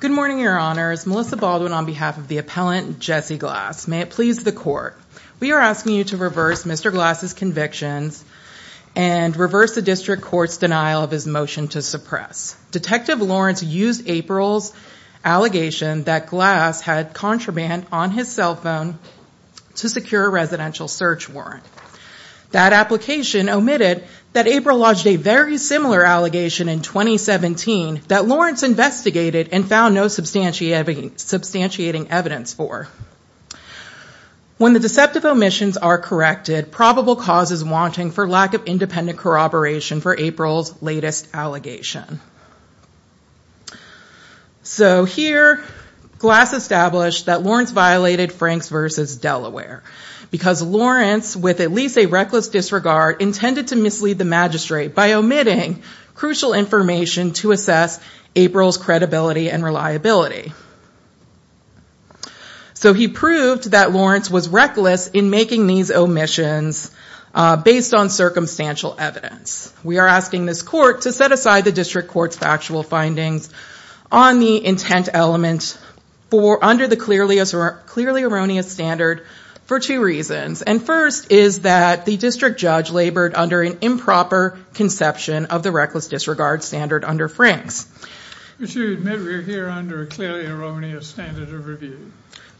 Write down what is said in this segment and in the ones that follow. Good morning, your honors. Melissa Baldwin on behalf of the appellant, Jessie Glass. May it please the court, we are asking you to reverse Mr. Glass's convictions and reverse the district court's denial of his motion to suppress. Detective Lawrence used April's allegation that Glass had contraband on his cell phone to secure a residential search warrant. That application omitted that April lodged a very similar allegation in 2017 that Lawrence investigated and found no substantiating evidence for. When the deceptive omissions are corrected, probable cause is wanting for lack of independent corroboration for April's latest allegation. So here Glass established that Lawrence violated Franks v. Delaware because Lawrence, with at least a reckless disregard, intended to mislead the magistrate by omitting crucial information to assess April's credibility and reliability. So he proved that Lawrence was reckless in making these omissions based on circumstantial evidence. We are asking this court to set aside the district court's factual findings on the intent element under the clearly erroneous standard for two reasons. And first is that the district judge labored under an improper conception of the reckless disregard standard under Franks. We should admit we're here under a clearly erroneous standard of review.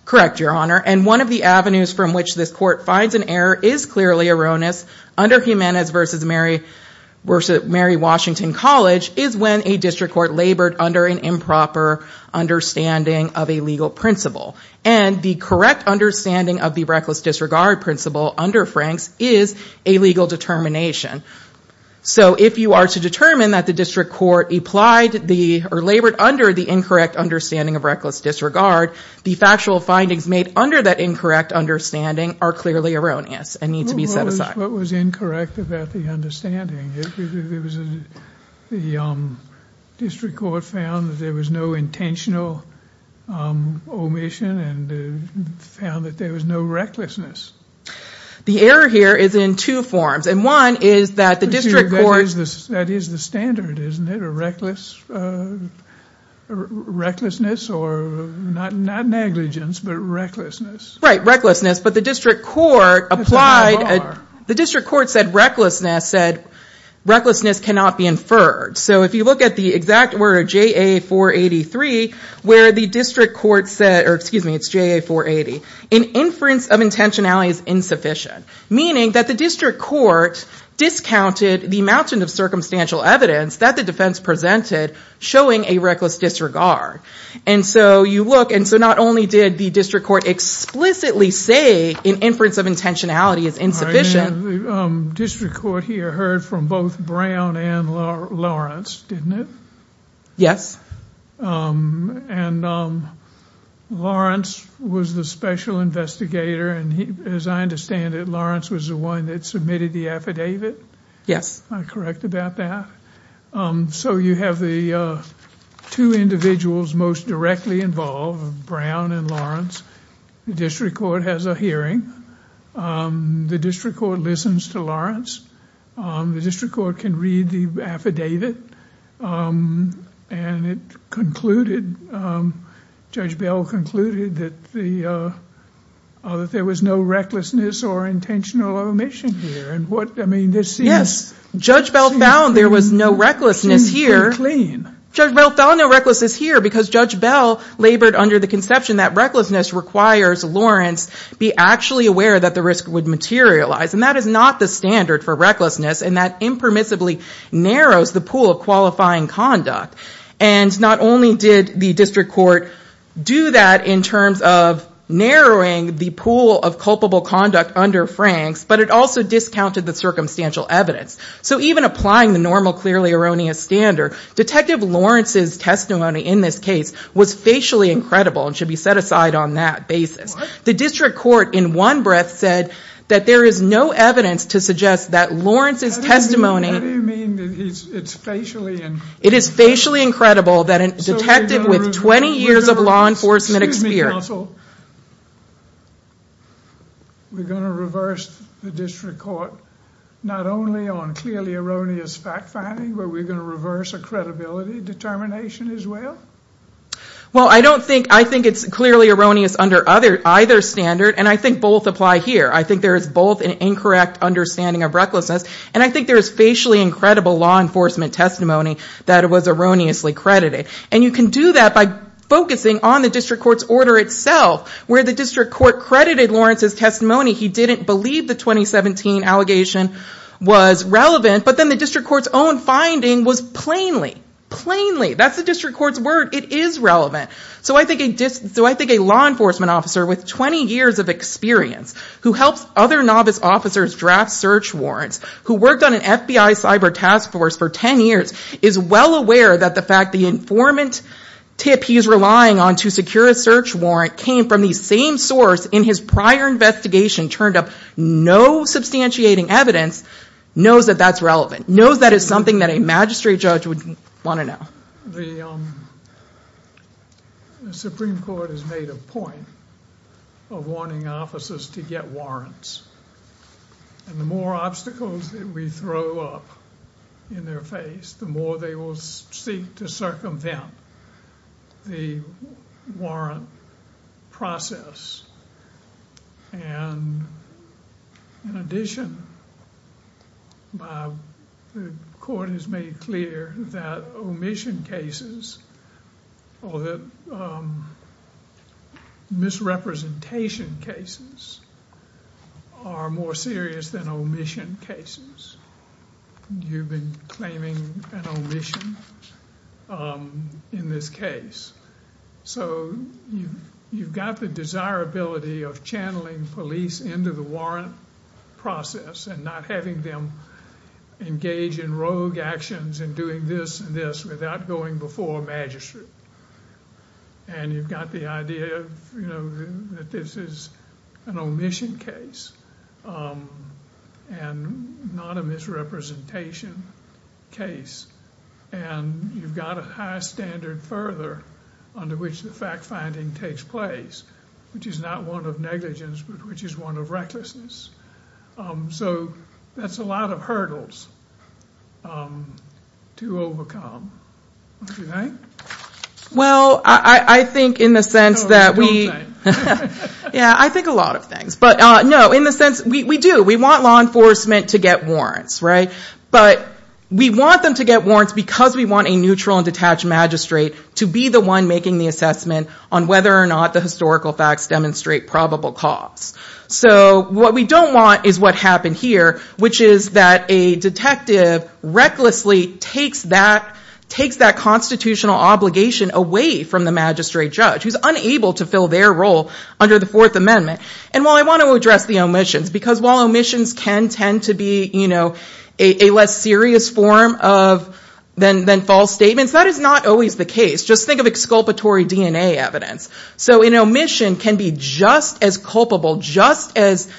Correct, your honor. And one of the avenues from which this court finds an error is clearly erroneous under Jimenez v. Mary Washington College is when a district court labored under an improper understanding of a legal principle. And the correct understanding of the reckless disregard principle under Franks is a legal determination. So if you are to determine that the district court applied or labored under the incorrect understanding of reckless disregard, the factual findings made under that incorrect understanding are clearly erroneous and need to be set aside. What was incorrect about the understanding? The district court found that there was no intentional omission and found that there was no recklessness. The error here is in two forms. And one is that the district court... That is the standard, isn't it? A reckless recklessness or not negligence, but recklessness. Right, recklessness. But the district court applied... The district court said recklessness cannot be inferred. So if you look at the exact J.A. 483 where the district court said... Or excuse me, it's J.A. 480. An inference of intentionality is insufficient. Meaning that the district court discounted the amount of circumstantial evidence that the defense presented showing a reckless disregard. And so you look, and so not only did the district court explicitly say an inference of intentionality is insufficient. The district court here heard from both Brown and Lawrence, didn't it? Yes. And Lawrence was the special investigator. And as I understand it, Lawrence was the one that submitted the affidavit. Yes. Am I correct about that? So you have the two individuals most directly involved, Brown and Lawrence. The district court has a hearing. The district court listens to Lawrence. The district court can read the affidavit. And it concluded, Judge Bell concluded that there was no recklessness or intentional omission here. And what, I mean, this seems... Yes. Judge Bell found there was no recklessness here. Seems to be clean. Judge Bell found no that recklessness requires Lawrence be actually aware that the risk would materialize. And that is not the standard for recklessness. And that impermissibly narrows the pool of qualifying conduct. And not only did the district court do that in terms of narrowing the pool of culpable conduct under Franks, but it also discounted the circumstantial evidence. So even applying the normal clearly erroneous standard, Detective Lawrence's testimony in this case was facially incredible and should be set aside on that basis. What? The district court in one breath said that there is no evidence to suggest that Lawrence's testimony... How do you mean it's facially incredible? It is facially incredible that a detective with 20 years of law enforcement experience... Excuse me, counsel. We're going to reverse the district court not only on clearly erroneous fact finding, but we're going to reverse a credibility determination as well? Well, I don't think... I think it's clearly erroneous under either standard, and I think both apply here. I think there is both an incorrect understanding of recklessness, and I think there is facially incredible law enforcement testimony that was erroneously credited. And you can do that by focusing on the district court's order itself, where the district court credited Lawrence's testimony. He didn't believe the 2017 allegation was relevant, but then the district court's own finding was plainly, plainly... That's the district court's word. It is relevant. So I think a law enforcement officer with 20 years of experience who helps other novice officers draft search warrants, who worked on an FBI cyber task force for 10 years, is well aware that the fact the informant tip he's relying on to secure a search warrant came from the same source in his prior investigation turned up no substantiating evidence, knows that that's relevant. Knows that is something that a magistrate judge would want to know. The Supreme Court has made a point of wanting officers to get warrants, and the more obstacles that we throw up in their the more they will seek to circumvent the warrant process. And in addition, the court has made clear that omission cases or that an omission in this case. So you've got the desirability of channeling police into the warrant process and not having them engage in rogue actions and doing this and this without going before a magistrate. And you've got the idea of, you know, that this is an omission case and not a misrepresentation case. And you've got a high standard further under which the fact finding takes place, which is not one of negligence, but which is one of recklessness. So that's a lot of hurdles to overcome, don't you think? Well, I think in the sense that we, yeah, I think a lot of things. But no, in the sense we do, we want law enforcement to get warrants, right? But we want them to get warrants because we want a neutral and detached magistrate to be the one making the assessment on whether or not the historical facts demonstrate probable cause. So what we don't want is what happened here, which is that a detective recklessly takes that constitutional obligation away from the magistrate judge who's unable to fill their role under the Fourth Amendment. And while I want to address the omissions, because while omissions can tend to be a less serious form than false statements, that is not always the case. Just think of exculpatory DNA evidence. So an omission can be just as culpable, just as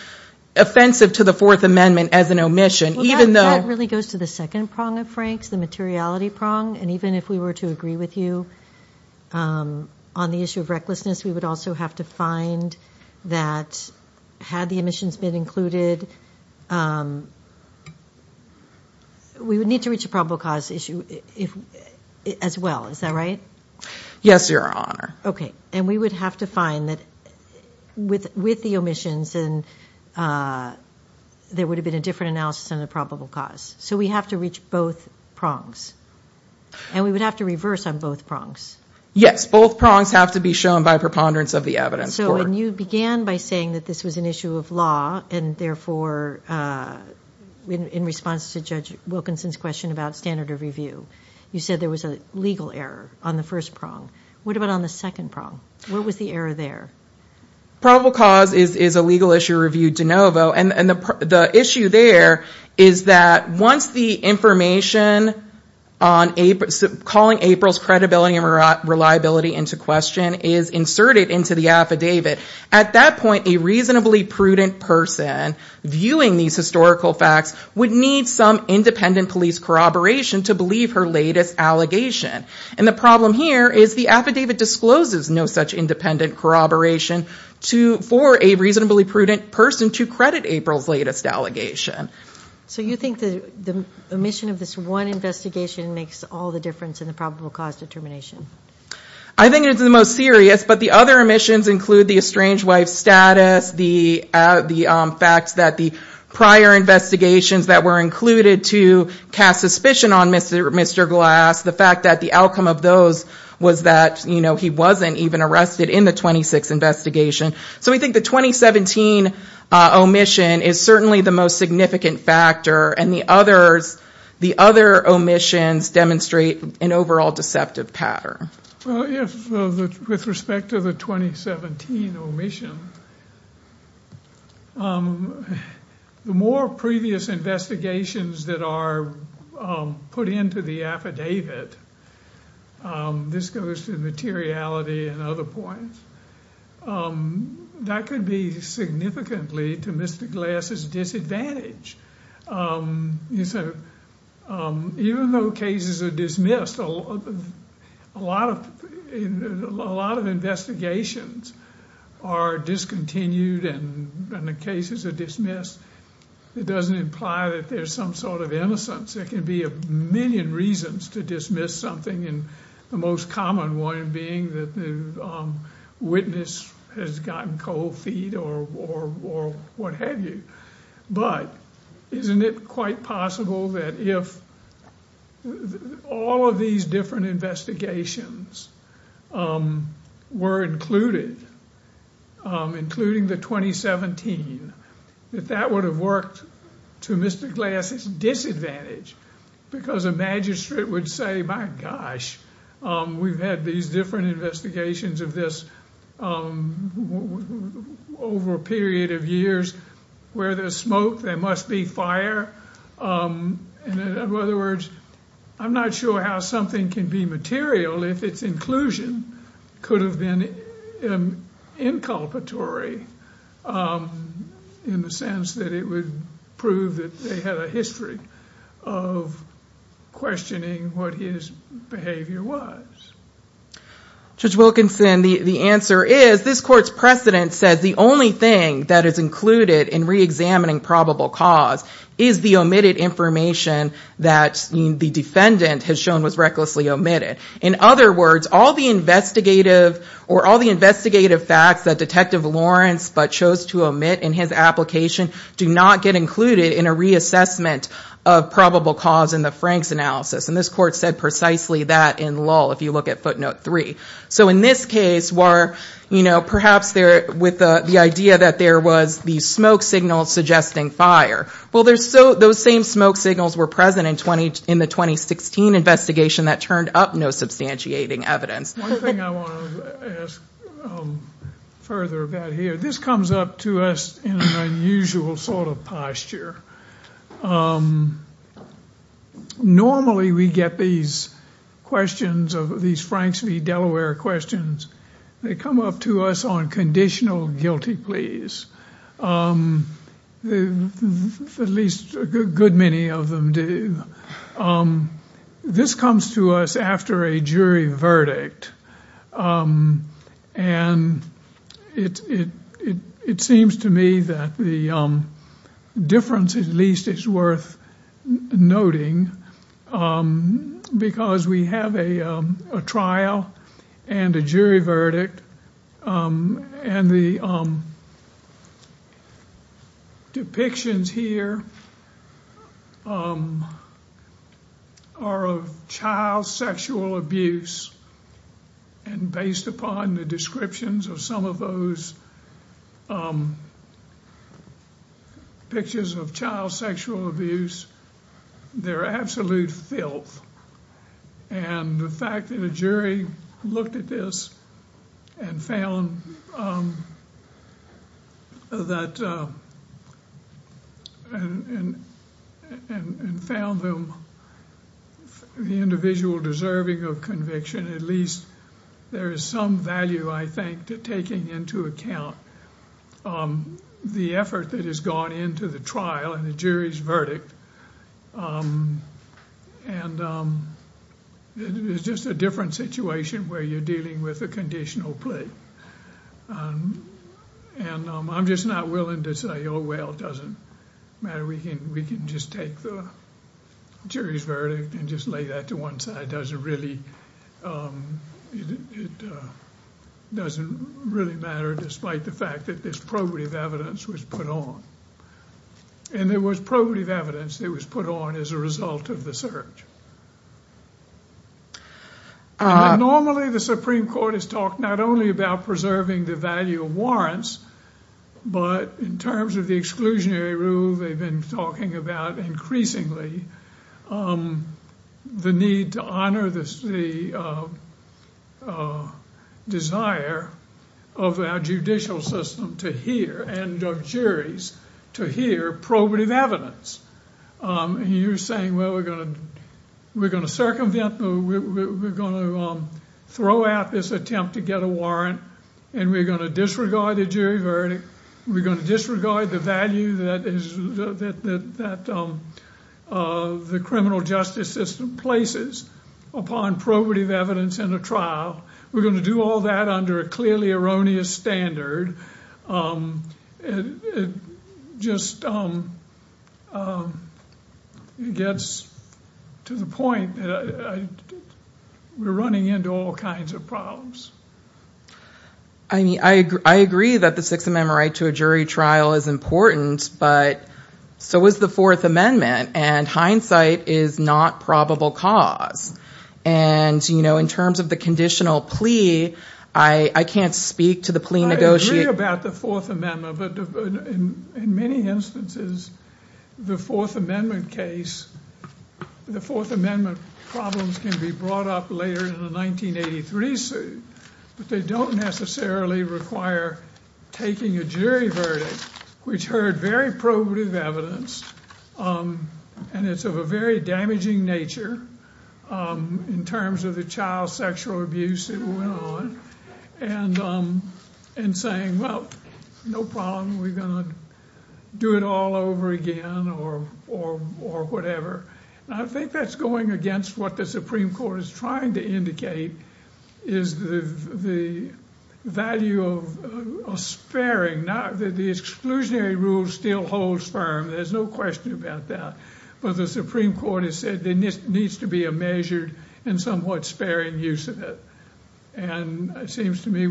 offensive to the Fourth Amendment as an omission, even though- That really goes to the second prong of Frank's, the materiality prong. And even if we were to agree with you on the issue of recklessness, we would also have to find that had the omissions been included, we would need to reach a probable cause issue as well. Is that right? Yes, Your Honor. Okay. And we would have to find that with the omissions, there would have been a different analysis on the probable cause. So we have to reach both prongs. And we would have to reverse on both prongs. Yes, both prongs have to be shown by preponderance of the evidence. So when you began by saying that this was an issue of law, and therefore in response to Judge Wilkinson's question about standard of review, you said there was a legal error on the first prong. What about on the second prong? What was the error there? Probable cause is a legal issue reviewed de novo. And the issue there is that once the information calling April's credibility and reliability into question is inserted into the affidavit, at that point a reasonably prudent person viewing these historical facts would need some independent police corroboration to believe her latest allegation. And the problem here is the affidavit discloses no such independent corroboration for a reasonably prudent person to credit April's latest allegation. So you think the omission of this one investigation makes all the difference in the probable cause determination? I think it's the most serious. But the other omissions include the estranged wife status, the facts that the prior investigations that were included to cast suspicion on Mr. Glass, the fact that the outcome of those was that he wasn't even arrested in the 26th investigation. So we think the 2017 omission is certainly the most significant factor, and the other omissions demonstrate an overall deceptive pattern. With respect to the 2017 omission, the more previous investigations that are put into the affidavit, this goes to materiality and other points, that could be significantly to Mr. Glass's disadvantage. So even though cases are dismissed, a lot of investigations are discontinued and the cases are dismissed, it doesn't imply that there's some sort of innocence. There can be a million reasons to dismiss something, and the most common one being that the witness has gotten cold feet or what have you. But isn't it quite possible that if all of these different investigations were included, including the 2017, that that would have worked to Mr. Glass's disadvantage? Because a magistrate would say, my gosh, we've had these different investigations of this over a period of years where there's smoke, there must be fire. In other words, I'm not sure how something can be material if its inclusion could have been inculpatory, in the sense that it would prove that they had a history of questioning what his behavior was. Judge Wilkinson, the answer is, this court's precedent says the only thing that is included in re-examining probable cause is the omitted information that the defendant has shown was recklessly omitted. In other words, all the investigative facts that Detective Lawrence but chose to omit in his application do not get included in a reassessment of probable cause in the Frank's analysis. And this court said precisely that in Lull, if you look at footnote three. So in this case, perhaps with the idea that there was the smoke signal suggesting fire. Well, those same smoke signals were present in the 2016 investigation that turned up no evidence. One thing I want to ask further about here, this comes up to us in an unusual sort of posture. Normally we get these questions, these Franks v. Delaware questions, they come up to us on conditional guilty pleas. At least a good many of them do. This comes to us after a jury verdict. And it seems to me that the difference at least is worth noting because we have a trial and a jury verdict and the depictions here are of child sexual abuse. And based upon the descriptions of some of those pictures of child sexual abuse, they're absolute filth. And the fact that a jury looked at this and found that and found them the individual deserving of conviction, at least there is some value I think to taking into account the effort that has gone into the verdict. And it's just a different situation where you're dealing with a conditional plea. And I'm just not willing to say, oh, well, it doesn't matter. We can just take the jury's verdict and just lay that to one side. It doesn't really matter despite the fact that this probative evidence was put on. And there was probative evidence that was put on as a result of the search. Normally, the Supreme Court has talked not only about preserving the value of warrants, but in terms of the exclusionary rule, they've been talking about increasingly the need to honor the desire of our judicial system to hear and of juries to hear probative evidence. You're saying, well, we're going to circumvent, we're going to throw out this attempt to get a warrant and we're going to disregard the jury verdict. We're going to disregard the value that the criminal justice system places upon probative evidence in a trial. We're going to do all that under a clearly erroneous standard. It just gets to the point that we're running into all kinds of problems. I mean, I agree that the Sixth Amendment right to a jury trial is important, but so was the Fourth Amendment, and hindsight is not probable cause. And, you know, in terms of the conditional plea, I can't speak to the plea negotiate... I agree about the Fourth Amendment, but in many instances, the Fourth Amendment case, the Fourth Amendment problems can be brought up later in the 1983 suit, but they don't necessarily require taking a jury verdict, which heard very probative evidence, and it's of a very damaging nature in terms of the child sexual abuse that went on, and saying, well, no problem, we're going to do it all over again, or whatever. I think that's going against what the Supreme Court is trying to indicate is the value of sparing. Now, the exclusionary rule still holds firm, there's no question about that, but the Supreme Court has said there needs to be a measured and somewhat sparing use of it, and it seems to me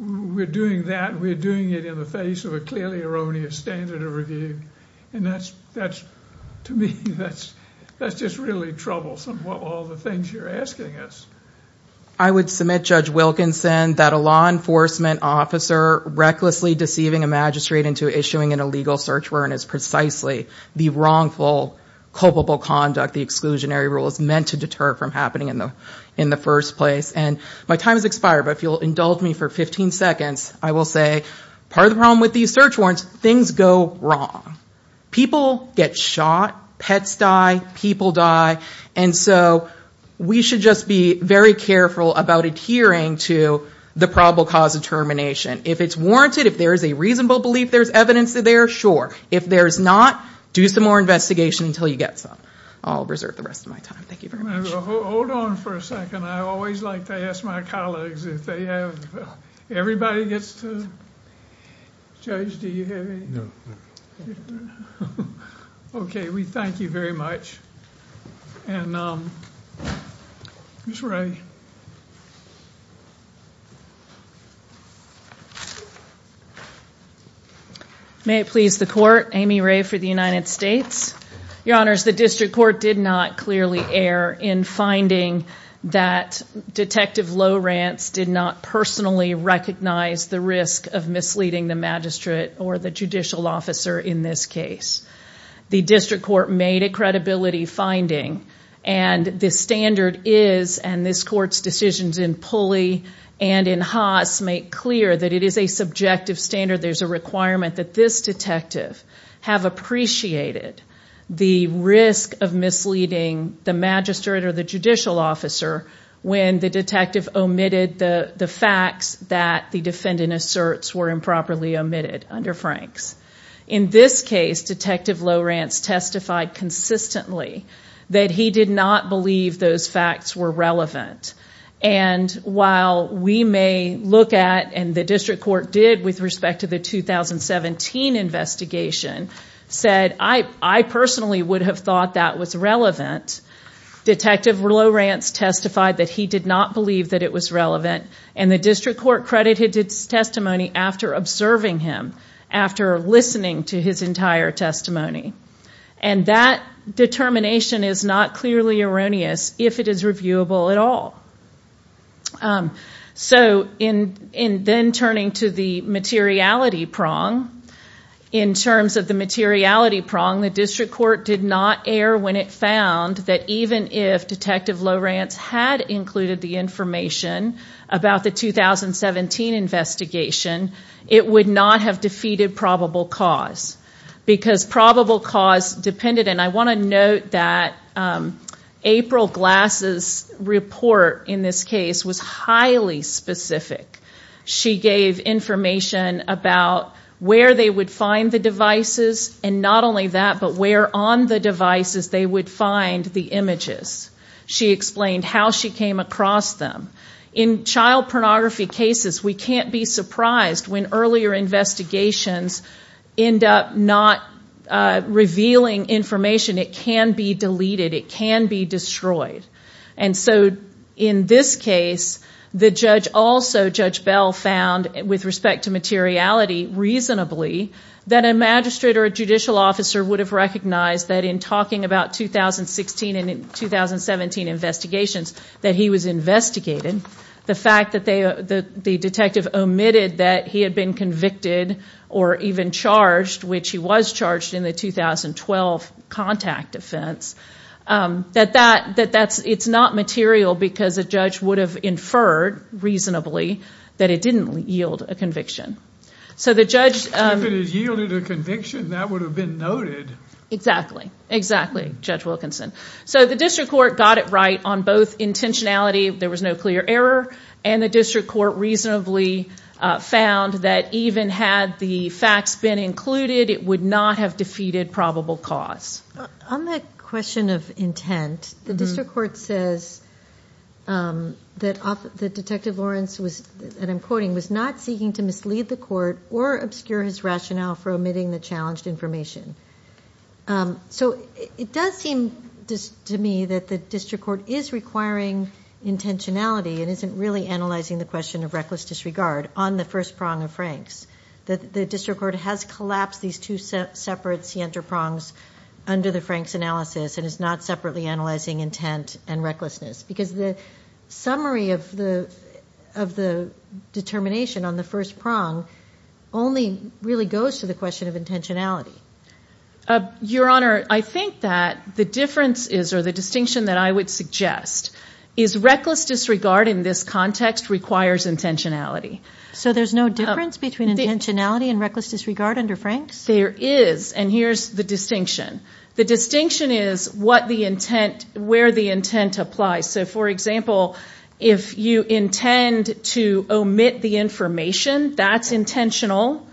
we're doing that, we're doing it in the clearly erroneous standard of review, and that's, to me, that's just really troublesome, all the things you're asking us. I would submit, Judge Wilkinson, that a law enforcement officer recklessly deceiving a magistrate into issuing an illegal search warrant is precisely the wrongful, culpable conduct the exclusionary rule is meant to deter from happening in the first place, and my time has expired, but if you'll indulge me for 15 seconds, I will say part of the problem with these search warrants, things go wrong. People get shot, pets die, people die, and so we should just be very careful about adhering to the probable cause of termination. If it's warranted, if there's a reasonable belief there's evidence there, sure. If there's not, do some more investigation until you get some. I'll reserve the rest of my time. Thank you very much. Judge, do you have any? No. Okay, we thank you very much, and Ms. Ray. May it please the court, Amy Ray for the United States. Your honors, the district court did not clearly err in finding that Detective Lowrance did not personally recognize the risk of misleading the magistrate or the judicial officer in this case. The district court made a credibility finding, and the standard is, and this court's decisions in Pulley and in Haas make clear that it is a subjective standard. There's a requirement that this detective have appreciated the risk of misleading the magistrate or the judicial officer when the detective omitted the facts that the defendant asserts were improperly omitted under Franks. In this case, Detective Lowrance testified consistently that he did not believe those facts were relevant, and while we may look at, and the district court did with respect to the 2017 investigation, said I personally would have thought that was relevant, Detective Lowrance testified that he did not believe that it was relevant, and the district court credited his testimony after observing him, after listening to his entire testimony, and that determination is not clearly erroneous if it is reviewable at all. So in then turning to the materiality prong, in terms of the materiality prong, the district court did not err when it found that even if Detective Lowrance had included the information about the 2017 investigation, it would not have defeated probable cause, because probable cause depended, and I want to note that April Glass's report in this case was highly specific. She gave information about where they would find the devices, and not only that, but where on the devices they would find the images. She explained how she came across them. In child pornography cases, we can't be surprised when earlier investigations end up not revealing information. It can be deleted. It can be destroyed. And so in this case, the judge also, Judge Bell, found with respect to materiality, reasonably, that a magistrate or a judicial officer would have recognized that in talking about 2016 and 2017 investigations, that he was investigated. The fact that the detective omitted that he had been convicted or even charged, which he was in the 2012 contact offense, that it's not material because a judge would have inferred reasonably that it didn't yield a conviction. If it had yielded a conviction, that would have been noted. Exactly. Exactly, Judge Wilkinson. So the district court got it right on both intentionality, there was no clear error, and the district court reasonably found that even had the facts been included, it would not have defeated probable cause. On the question of intent, the district court says that Detective Lawrence was, and I'm quoting, was not seeking to mislead the court or obscure his rationale for omitting the challenged information. So it does seem to me that the district court is requiring intentionality and isn't really analyzing the question of intentionality. The district court has collapsed these two separate center prongs under the Frank's analysis and is not separately analyzing intent and recklessness because the summary of the determination on the first prong only really goes to the question of intentionality. Your Honor, I think that the difference is, or the distinction that I would suggest, is reckless disregard in this context requires intentionality. So there's no difference between intentionality and reckless disregard under Frank's? There is, and here's the distinction. The distinction is what the intent, where the intent applies. So for example, if you intend to omit the information, that's intentional,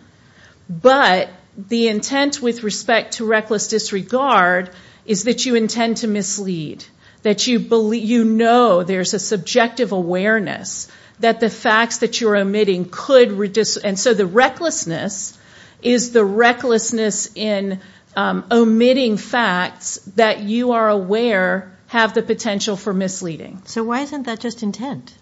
but the intent with respect to reckless disregard is that you intend to mislead, that you know there's a subjective awareness that the facts that you're omitting could reduce, and so the recklessness is the recklessness in omitting facts that you are aware have the potential for misleading. So why isn't that just intent?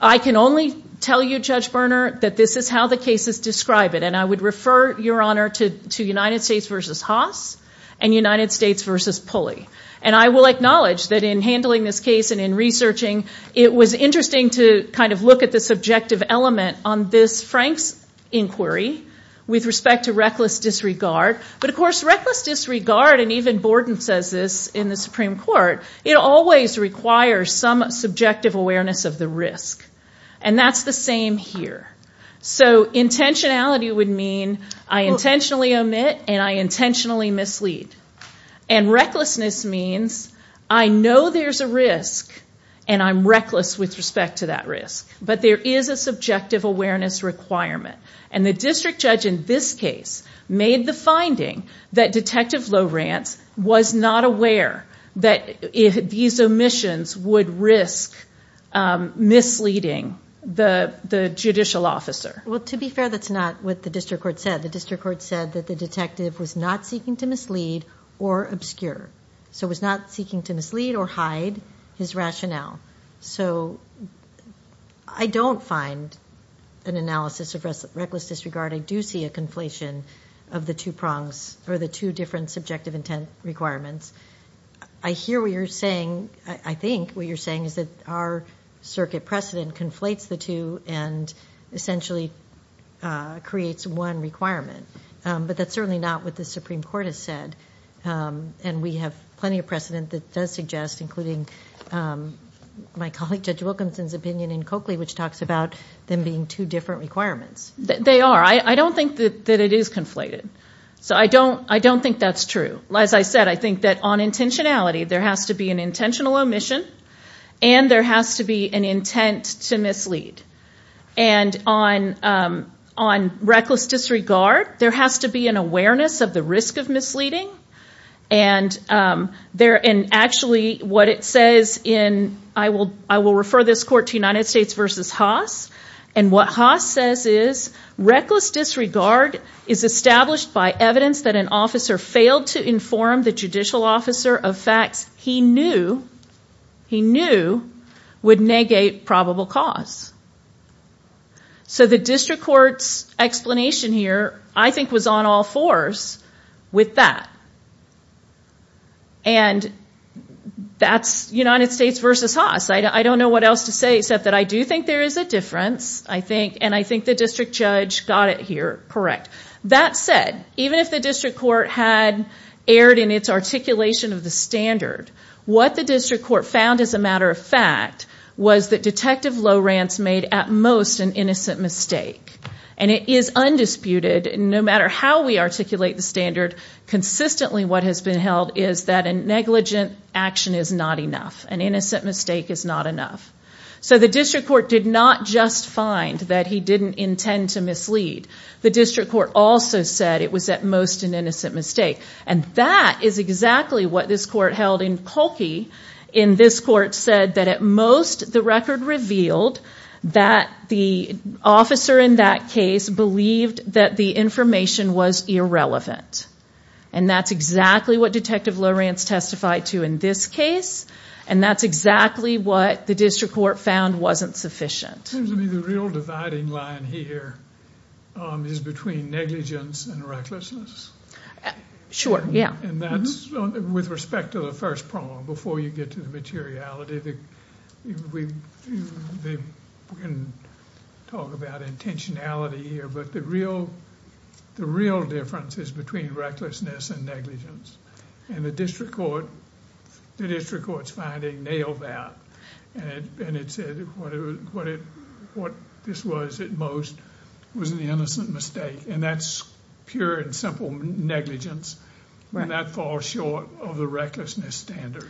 I can only tell you, Judge Berner, that this is how the cases describe it, and I would refer, Your Honor, to United States versus Haas and United States versus Pulley, and I will acknowledge that in handling this case and in researching, it was interesting to kind of look at the subjective element on this Frank's inquiry with respect to reckless disregard, but of course reckless disregard, and even Borden says this in the Supreme Court, it always requires some subjective awareness of the risk, and that's the same here. So intentionality would mean I intentionally omit and I intentionally mislead, and recklessness means I know there's a risk and I'm reckless with respect to that risk, but there is a subjective awareness requirement, and the district judge in this case made the finding that Detective Lowrance was not aware that these omissions would risk misleading the judicial officer. Well, to be fair, that's not what the district court said. The district court said that the detective was not seeking to mislead or obscure, so was not seeking to mislead or hide his rationale. So I don't find an analysis of reckless disregard. I do see a conflation of the two prongs or the two different subjective intent requirements. I hear what you're saying. I think what you're saying is that our circuit precedent conflates the two and essentially creates one requirement, but that's certainly not what the Supreme Court has said, and we have plenty of precedent that does suggest, including my colleague Judge Wilkinson's opinion in Coakley, which talks about them being two different requirements. They are. I don't think that it is conflated, so I don't think that's true. As I said, I think that on intentionality, there has to be an intentional omission, and there has to be an intent to mislead. And on reckless disregard, there has to be an awareness of the risk of misleading. I will refer this court to United States v. Haas, and what Haas says is, reckless disregard is established by evidence that an officer failed to inform the judicial officer of facts he knew would negate probable cause. So the district court's explanation here, I think, was on all fours with that. And that's United States v. Haas. I don't know what else to say except that I do think there is a difference, and I think the district judge got it here That said, even if the district court had erred in its articulation of the standard, what the district court found, as a matter of fact, was that Detective Lowrance made, at most, an innocent mistake. And it is undisputed, no matter how we articulate the standard, consistently what has been held is that a negligent action is not enough. An innocent mistake is not enough. So the district court did not just find that he didn't intend to mislead. The district court also said it was, at most, an innocent mistake. And that is exactly what this court held in Kolke. In this court said that, at most, the record revealed that the officer in that case believed that the information was irrelevant. And that's exactly what Detective Lowrance testified to in this case, and that's exactly what the district court found wasn't sufficient. The real dividing line here is between negligence and recklessness. Sure, yeah. And that's with respect to the first problem, before you get to the materiality, we can talk about intentionality here, but the real difference is between recklessness and negligence. And the district court's finding nailed that. And it said what this was, at most, was an innocent mistake. And that's pure and simple negligence. And that falls short of the recklessness standard.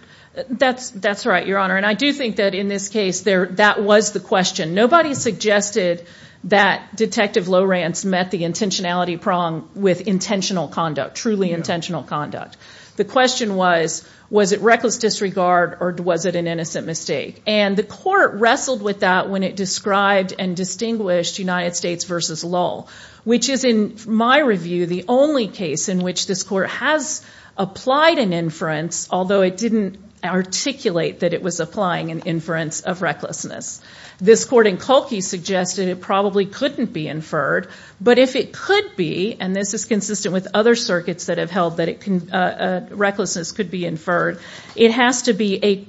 That's right, Your Honor. And I do think that in this case, that was the question. Nobody suggested that Detective Lowrance met the intentionality prong with intentional conduct, truly intentional conduct. The question was, was it reckless disregard, or was it an innocent mistake? And the court wrestled with that when it described and distinguished United States versus Lowell, which is, in my review, the only case in which this court has applied an inference, although it didn't articulate that it was applying an inference of recklessness. This court in Kolke suggested it probably couldn't be inferred, but if it could be, and this is consistent with other circuits that have held that recklessness could be inferred, it has to be a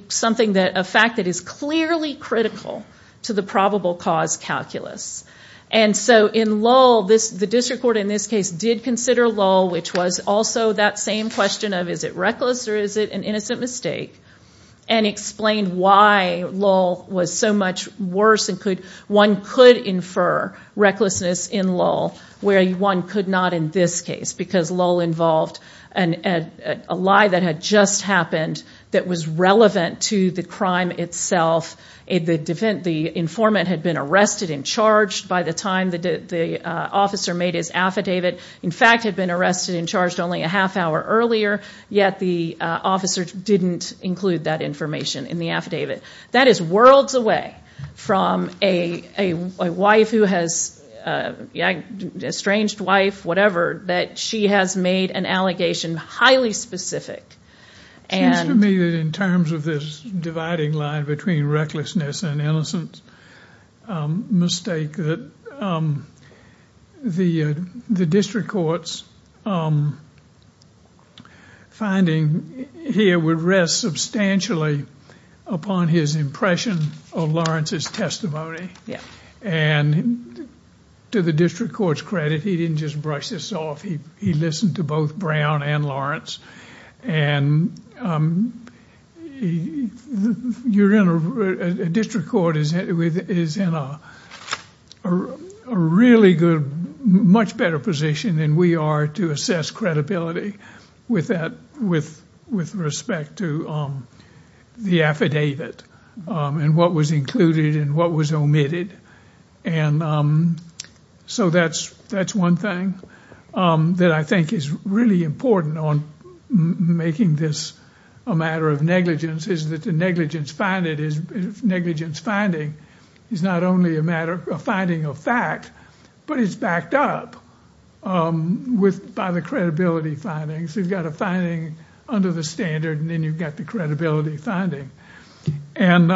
fact that is clearly critical to the probable cause calculus. And so in Lowell, the district court in this case did consider Lowell, which was also that same question of is it reckless or is it an innocent mistake, and explained why Lowell was so much worse. One could infer recklessness in Lowell, where one could not in this case, because Lowell involved a lie that had just happened that was relevant to the crime itself. The informant had been arrested and charged by the time the officer made his affidavit, in fact had been arrested and charged only a half hour earlier, yet the officer didn't include that information in the affidavit. That is worlds away from a wife who has, estranged wife, whatever, that she has made an allegation highly specific. It seems to me that in terms of this dividing line between recklessness and innocence mistake that the district court's finding here would rest substantially upon his impression of Lawrence's testimony. And to the district court's credit, he didn't just brush this off. He listened to both Brown and Lawrence. And the district court is in a really good, much better position than we are to assess credibility with respect to the affidavit and what was included and what was omitted. And so that's one thing that I think is really important on making this a matter of negligence is that the negligence finding is not only a matter of finding a fact, but it's backed up by the credibility findings. You've got a finding under the standard and then you've the credibility finding. And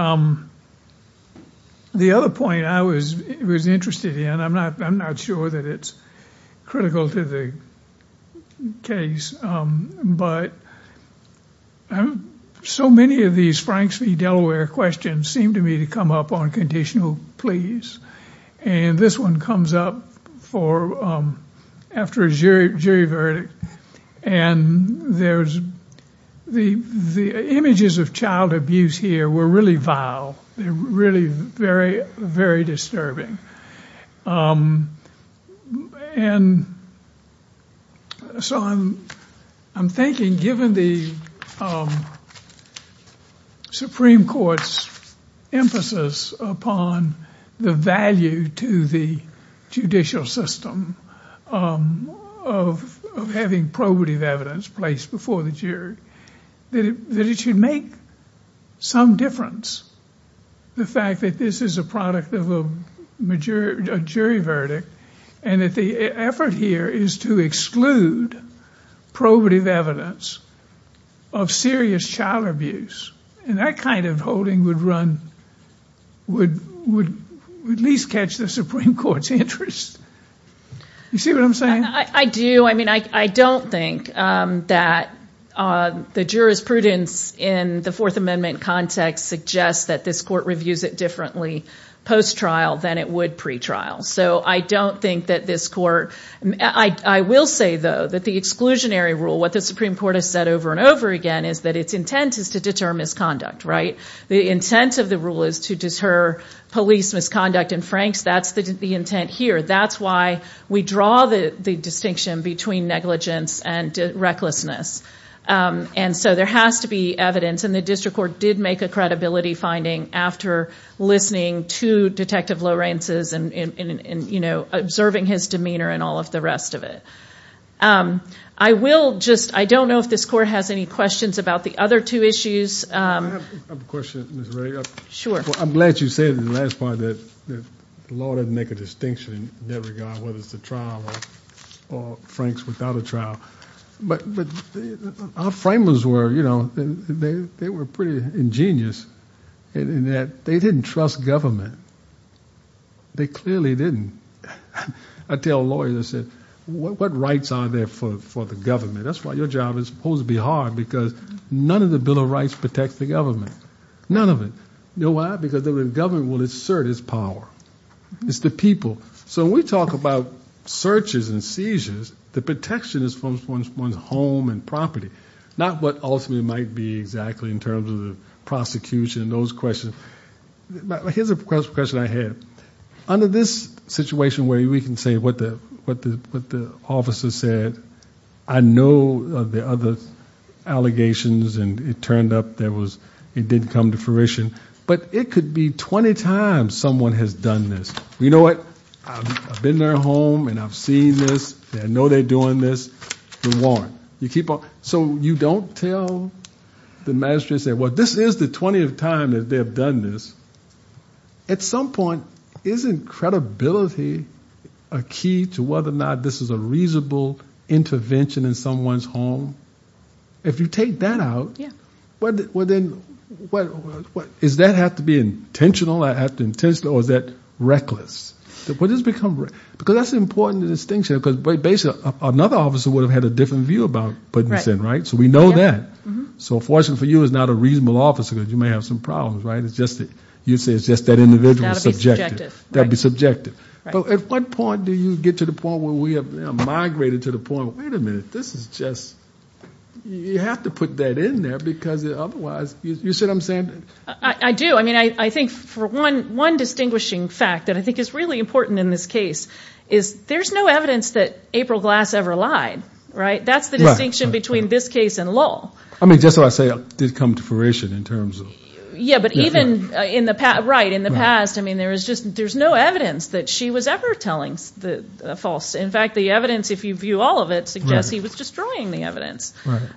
the other point I was interested in, I'm not sure that it's critical to the case, but so many of these Franks v. Delaware questions seem to me to come up on pleas. And this one comes up after a jury verdict. And the images of child abuse here were really vile. They're really very, very disturbing. And so I'm thinking given the Supreme Court's emphasis upon the value to the judicial system of having probative evidence placed before the jury, that it should make some difference, the fact that this is a product of a jury verdict and that the effort here is to exclude probative evidence of serious child abuse. And that kind of holding would run, would at least catch the Supreme Court's interest. You see what I'm saying? I do. I mean, I don't think that the jurisprudence in the Fourth Circuit, I don't think that this court, I will say though that the exclusionary rule, what the Supreme Court has said over and over again, is that its intent is to deter misconduct, right? The intent of the rule is to deter police misconduct in Franks. That's the intent here. That's why we draw the distinction between negligence and recklessness. And so there has to be evidence. And the district court did make a credibility finding after listening to Detective Lawrence's and observing his demeanor and all of the rest of it. I will just, I don't know if this court has any questions about the other two issues. I have a question, Ms. Ray. Sure. I'm glad you said in the last part that the law doesn't make a distinction in that regard, whether it's a trial or Franks without a trial. But our framers were, they were pretty ingenious in that they didn't trust government. They clearly didn't. I tell lawyers, I said, what rights are there for the government? That's why your job is supposed to be hard because none of the Bill of Rights protects the government. None of it. You know why? Because the government will assert its power. It's the people. So we talk about searches and seizures, the protection is from one's home and property, not what ultimately might be exactly in terms of the prosecution and those questions. Here's a question I had. Under this situation where we can say what the officer said, I know the other allegations and it turned up that it didn't come to fruition, but it could be 20 times someone has done this. You know what? I've been in their home and I've seen this. I know they're doing this. So you don't tell the magistrate, say, well, this is the 20th time that they have done this. At some point, isn't credibility a key to whether or not this is a reasonable intervention in someone's home? If you take that out, is that have to be intentional or is that reckless? Because that's an important distinction. Basically, another officer would have had a different view about putting this in, right? So we know that. So forcing for you is not a reasonable officer because you may have some problems, right? You'd say it's just that individual subjective. That would be subjective. But at what point do you get to the point where we have migrated to the point, wait a minute, this is just, you have to put that in there because otherwise, you see what I'm saying? I do. I mean, I think for one distinguishing fact that I think is really important in this case is there's no evidence that April Glass ever lied, right? That's the distinction between this case and Lowell. I mean, just so I say, it did come to fruition in terms of... Yeah, but even in the past, right, in the past, I mean, there was just, there's no evidence that she was ever telling the false. In fact, the evidence, if you view all of it, suggests he was destroying the evidence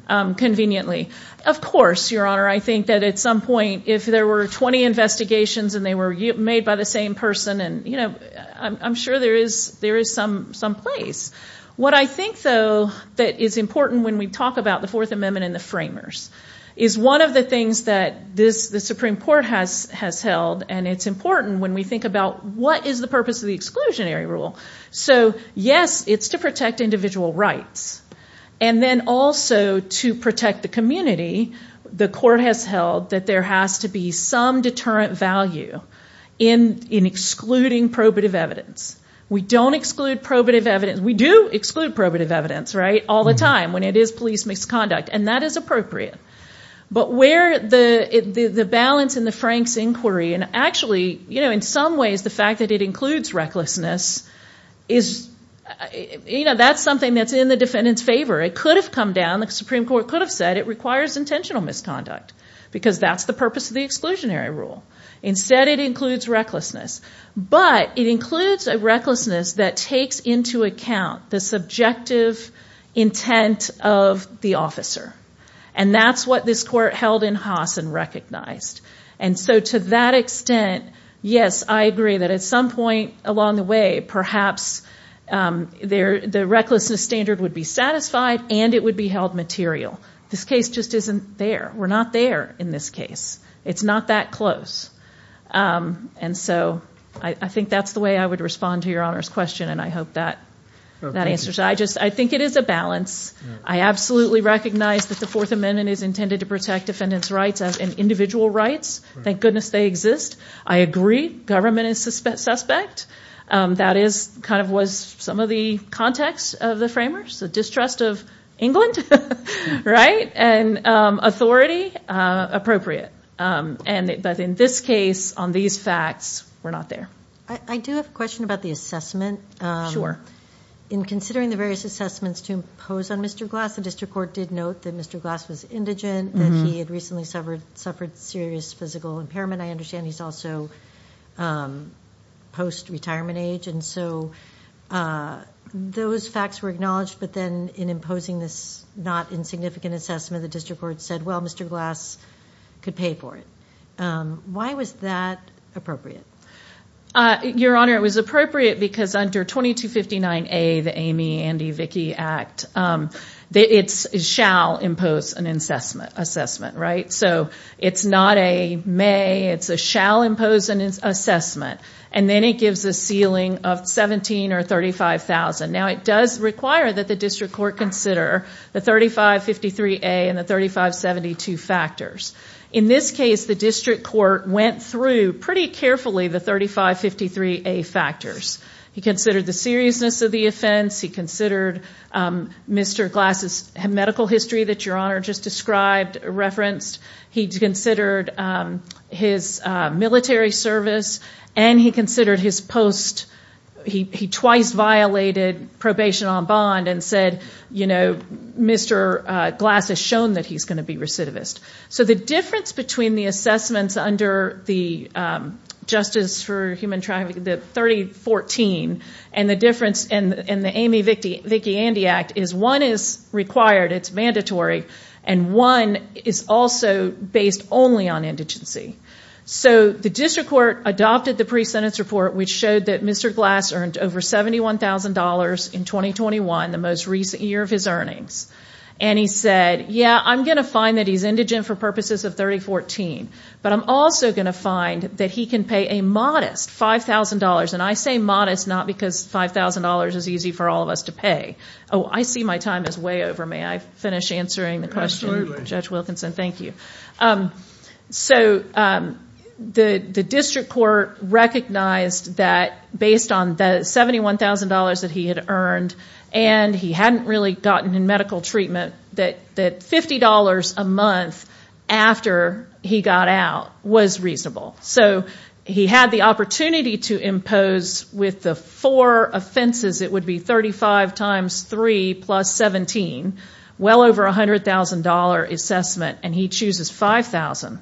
conveniently. Of course, Your Honor, I think that at some point, if there were 20 investigations and they were made by the same person and, you know, I'm sure there is there is some place. What I think, though, that is important when we talk about the Fourth Amendment and the framers is one of the things that this, the Supreme Court has held, and it's important when we think about what is the purpose of the exclusionary rule. So yes, it's to protect individual rights, and then also to protect the community. The court has held that there has to be some deterrent value in excluding probative evidence. We don't exclude probative evidence. We do exclude probative evidence, right, all the time when it is police misconduct, and that is appropriate. But where the balance in the Frank's inquiry, and actually, you know, in some ways, the fact that it includes recklessness is, you know, that's something that's in the defendant's favor. It could have come down, the Supreme Court could have said it requires intentional misconduct because that's the purpose of the exclusionary rule. Instead, it includes recklessness, but it includes a recklessness that takes into account the subjective intent of the officer, and that's this court held in Haas and recognized. And so to that extent, yes, I agree that at some point along the way, perhaps the recklessness standard would be satisfied and it would be held material. This case just isn't there. We're not there in this case. It's not that close. And so I think that's the way I would respond to your Honor's question, and I hope that answers. I just, I think it is a balance. I absolutely recognize that the Fourth Amendment is intended to protect defendants' rights and individual rights. Thank goodness they exist. I agree, government is suspect. That is, kind of, was some of the context of the framers, the distrust of England, right? And authority, appropriate. But in this case, on these facts, we're not there. I do have a question about the assessment. Sure. In considering the various assessments to impose on Mr. Glass, the district court did note that Mr. Glass was indigent, that he had recently suffered serious physical impairment. I understand he's also post-retirement age. And so those facts were acknowledged, but then in imposing this not insignificant assessment, the district court said, well, Mr. Glass could pay for it. Why was that appropriate? Your Honor, it was appropriate because under 2259A, the Amy, Andy, Vicki Act, it shall impose an assessment, right? So it's not a may, it's a shall impose an assessment. And then it gives a ceiling of $17,000 or $35,000. Now it does require that the district court consider the 3553A and the 3572 factors. In this case, the district court went through pretty carefully the 3553A factors. He considered the seriousness of the offense. He considered Mr. Glass's medical history that Your Honor just described, referenced. He considered his military service. And he considered his post, he twice violated probation on bond and said, Mr. Glass has shown that he's going to be recidivist. So the difference between the assessments under the Justice for Human Trafficking, the 3014, and the difference in the Amy, Vicki, Vicki, Andy Act is one is required, it's mandatory. And one is also based only on indigency. So the district court adopted the pre-sentence report, which showed that Mr. Glass earned over $71,000 in 2021, the most recent year of his earnings. And he said, yeah, I'm going to find that he's indigent for purposes of 3014, but I'm also going to find that he can pay a modest $5,000. And I say modest, not because $5,000 is easy for all of us to pay. Oh, I see my time is way over. May I finish answering the question, Judge Wilkinson? Thank you. So the district court recognized that based on the $71,000 that he had earned, and he hadn't really gotten in medical treatment, that $50 a month after he got out was reasonable. So he had the opportunity to impose with the four offenses, it would be 35 times three plus 17, well over $100,000 assessment, and he chooses $5,000.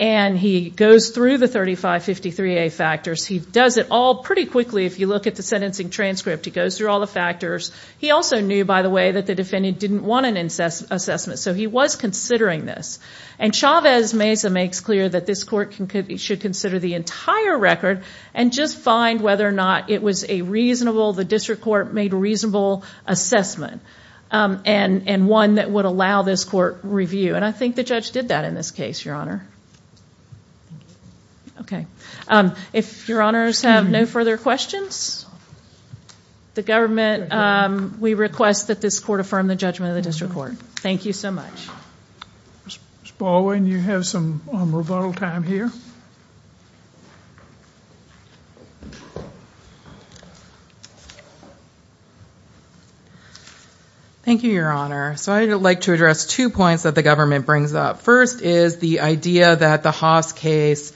And he goes through the 3553A factors. He does it all pretty quickly. If you look at the sentencing transcript, he goes through all the factors. He also knew, by the way, that the defendant didn't want an assessment, so he was considering this. And Chavez Meza makes clear that this court should consider the entire record and just find whether or not it was a reasonable, the district court made a reasonable assessment, and one that would allow this court review. And I think the judge did that in this case, Your Honor. Okay. If Your Honors have no further questions, the government, we request that this court affirm the judgment of the district court. Thank you so much. Ms. Baldwin, you have some rebuttal time here. Thank you, Your Honor. So I'd like to address two points that the government brings up. First is the idea that the Haas case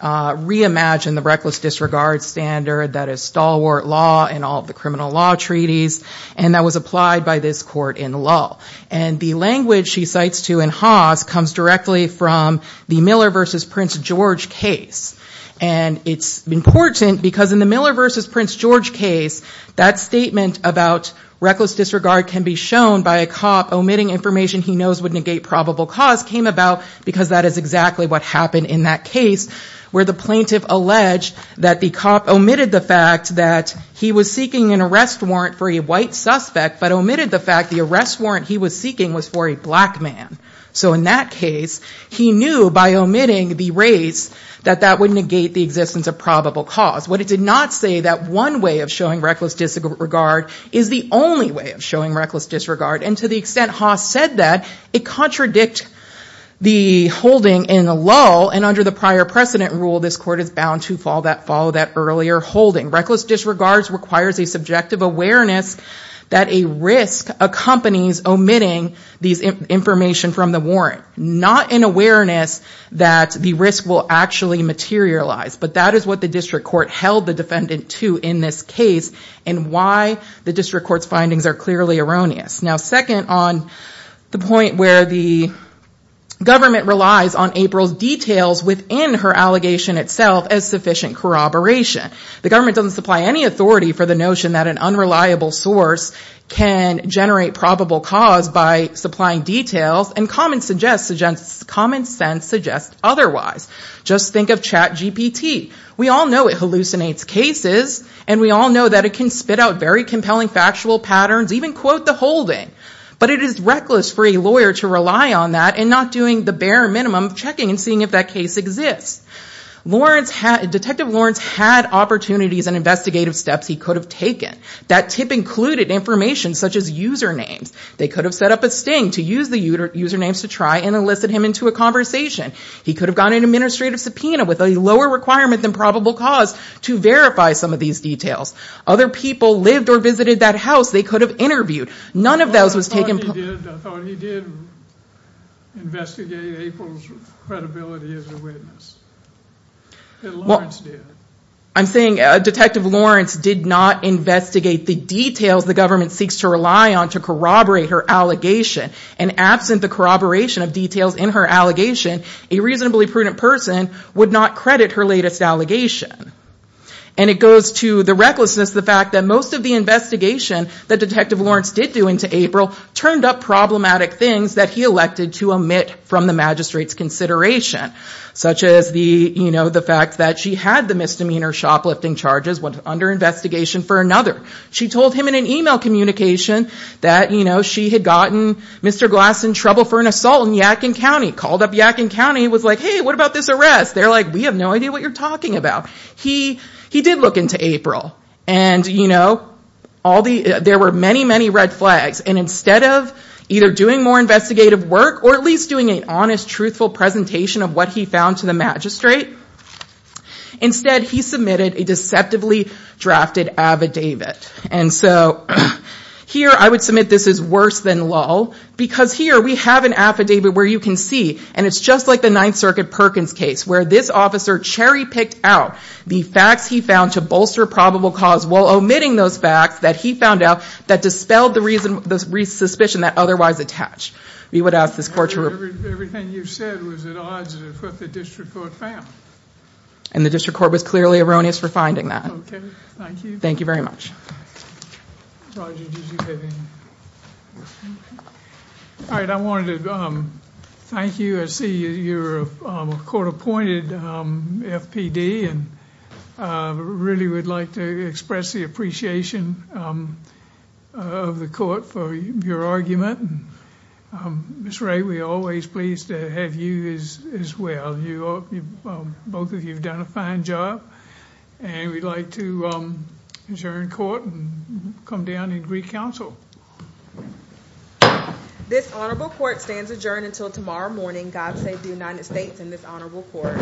reimagined the reckless disregard standard that is stalwart law in all the criminal law treaties, and that was applied by this court in law. And the language she cites to in Haas comes directly from the Miller v. Prince George case. And it's important because in the Miller v. Prince George case, that statement about reckless disregard can be shown by a cop omitting information he knows would negate probable cause came about because that is exactly what happened in that case, where the plaintiff alleged that the cop omitted the fact that he was seeking an arrest warrant for a white suspect, but omitted the fact the arrest warrant he was seeking was for a black man. So in that case, he knew by omitting the race that that would negate the existence of probable cause. What it did not say, that one way of showing reckless disregard is the only way of showing reckless disregard. And to the extent Haas said that, it contradicts the holding in the lull, and under the prior precedent rule, this court is bound to follow that earlier holding. Reckless disregard requires a subjective awareness that a risk accompanies omitting this information from the warrant, not an awareness that the risk will actually materialize. But that is what the district court held the defendant to in this case, and why the district court's findings are clearly erroneous. Now second, on the point where the government relies on April's details within her allegation itself as sufficient corroboration. The government doesn't supply any authority for the notion that an unreliable source can generate probable cause by supplying details, and common sense suggests otherwise. Just think of CHAT-GPT. We all know it hallucinates cases, and we all know that it can spit out very compelling factual patterns, even quote the holding. But it is reckless for a lawyer to rely on that, and not doing the bare minimum of checking and seeing if that case exists. Detective Lawrence had opportunities and investigative steps he could have taken. That tip included information such as usernames. They could have set up a sting to use the usernames to try and elicit him into a conversation. He could have gotten an administrative subpoena with a lower requirement than probable cause to verify some of these details. Other people lived or visited that house they could have interviewed. None of those was taken. I thought he did investigate April's credibility as a witness. I'm saying Detective Lawrence did not investigate the details the government seeks to rely on to corroborate her allegation, and absent the corroboration of details in her allegation, a reasonably prudent person would not credit her latest allegation. And it goes to the recklessness, the fact that most of the investigation that Detective Lawrence did do into April turned up problematic things that he elected to omit from the magistrate's consideration, such as the fact that she had the misdemeanor shoplifting charges under investigation for another. She told him in communication that she had gotten Mr. Glass in trouble for an assault in Yadkin County. He called up Yadkin County and was like, hey, what about this arrest? They're like, we have no idea what you're talking about. He did look into April. There were many, many red flags. And instead of either doing more investigative work or at least doing an honest, truthful presentation of what he magistrate, instead he submitted a deceptively drafted affidavit. And so here I would submit this is worse than lull, because here we have an affidavit where you can see, and it's just like the Ninth Circuit Perkins case, where this officer cherry-picked out the facts he found to bolster probable cause while omitting those facts that he found out that dispelled the suspicion that we would ask this court to report. Everything you've said was at odds with what the district court found. And the district court was clearly erroneous for finding that. Okay, thank you. Thank you very much. All right, I wanted to thank you. I see you're a court-appointed FPD and I really would like to express the appreciation of the court for your argument. Ms. Wray, we're always pleased to have you as well. Both of you have done a fine job. And we'd like to adjourn court and come down and agree counsel. This honorable court stands adjourned until tomorrow morning. God save the United States and this honorable court.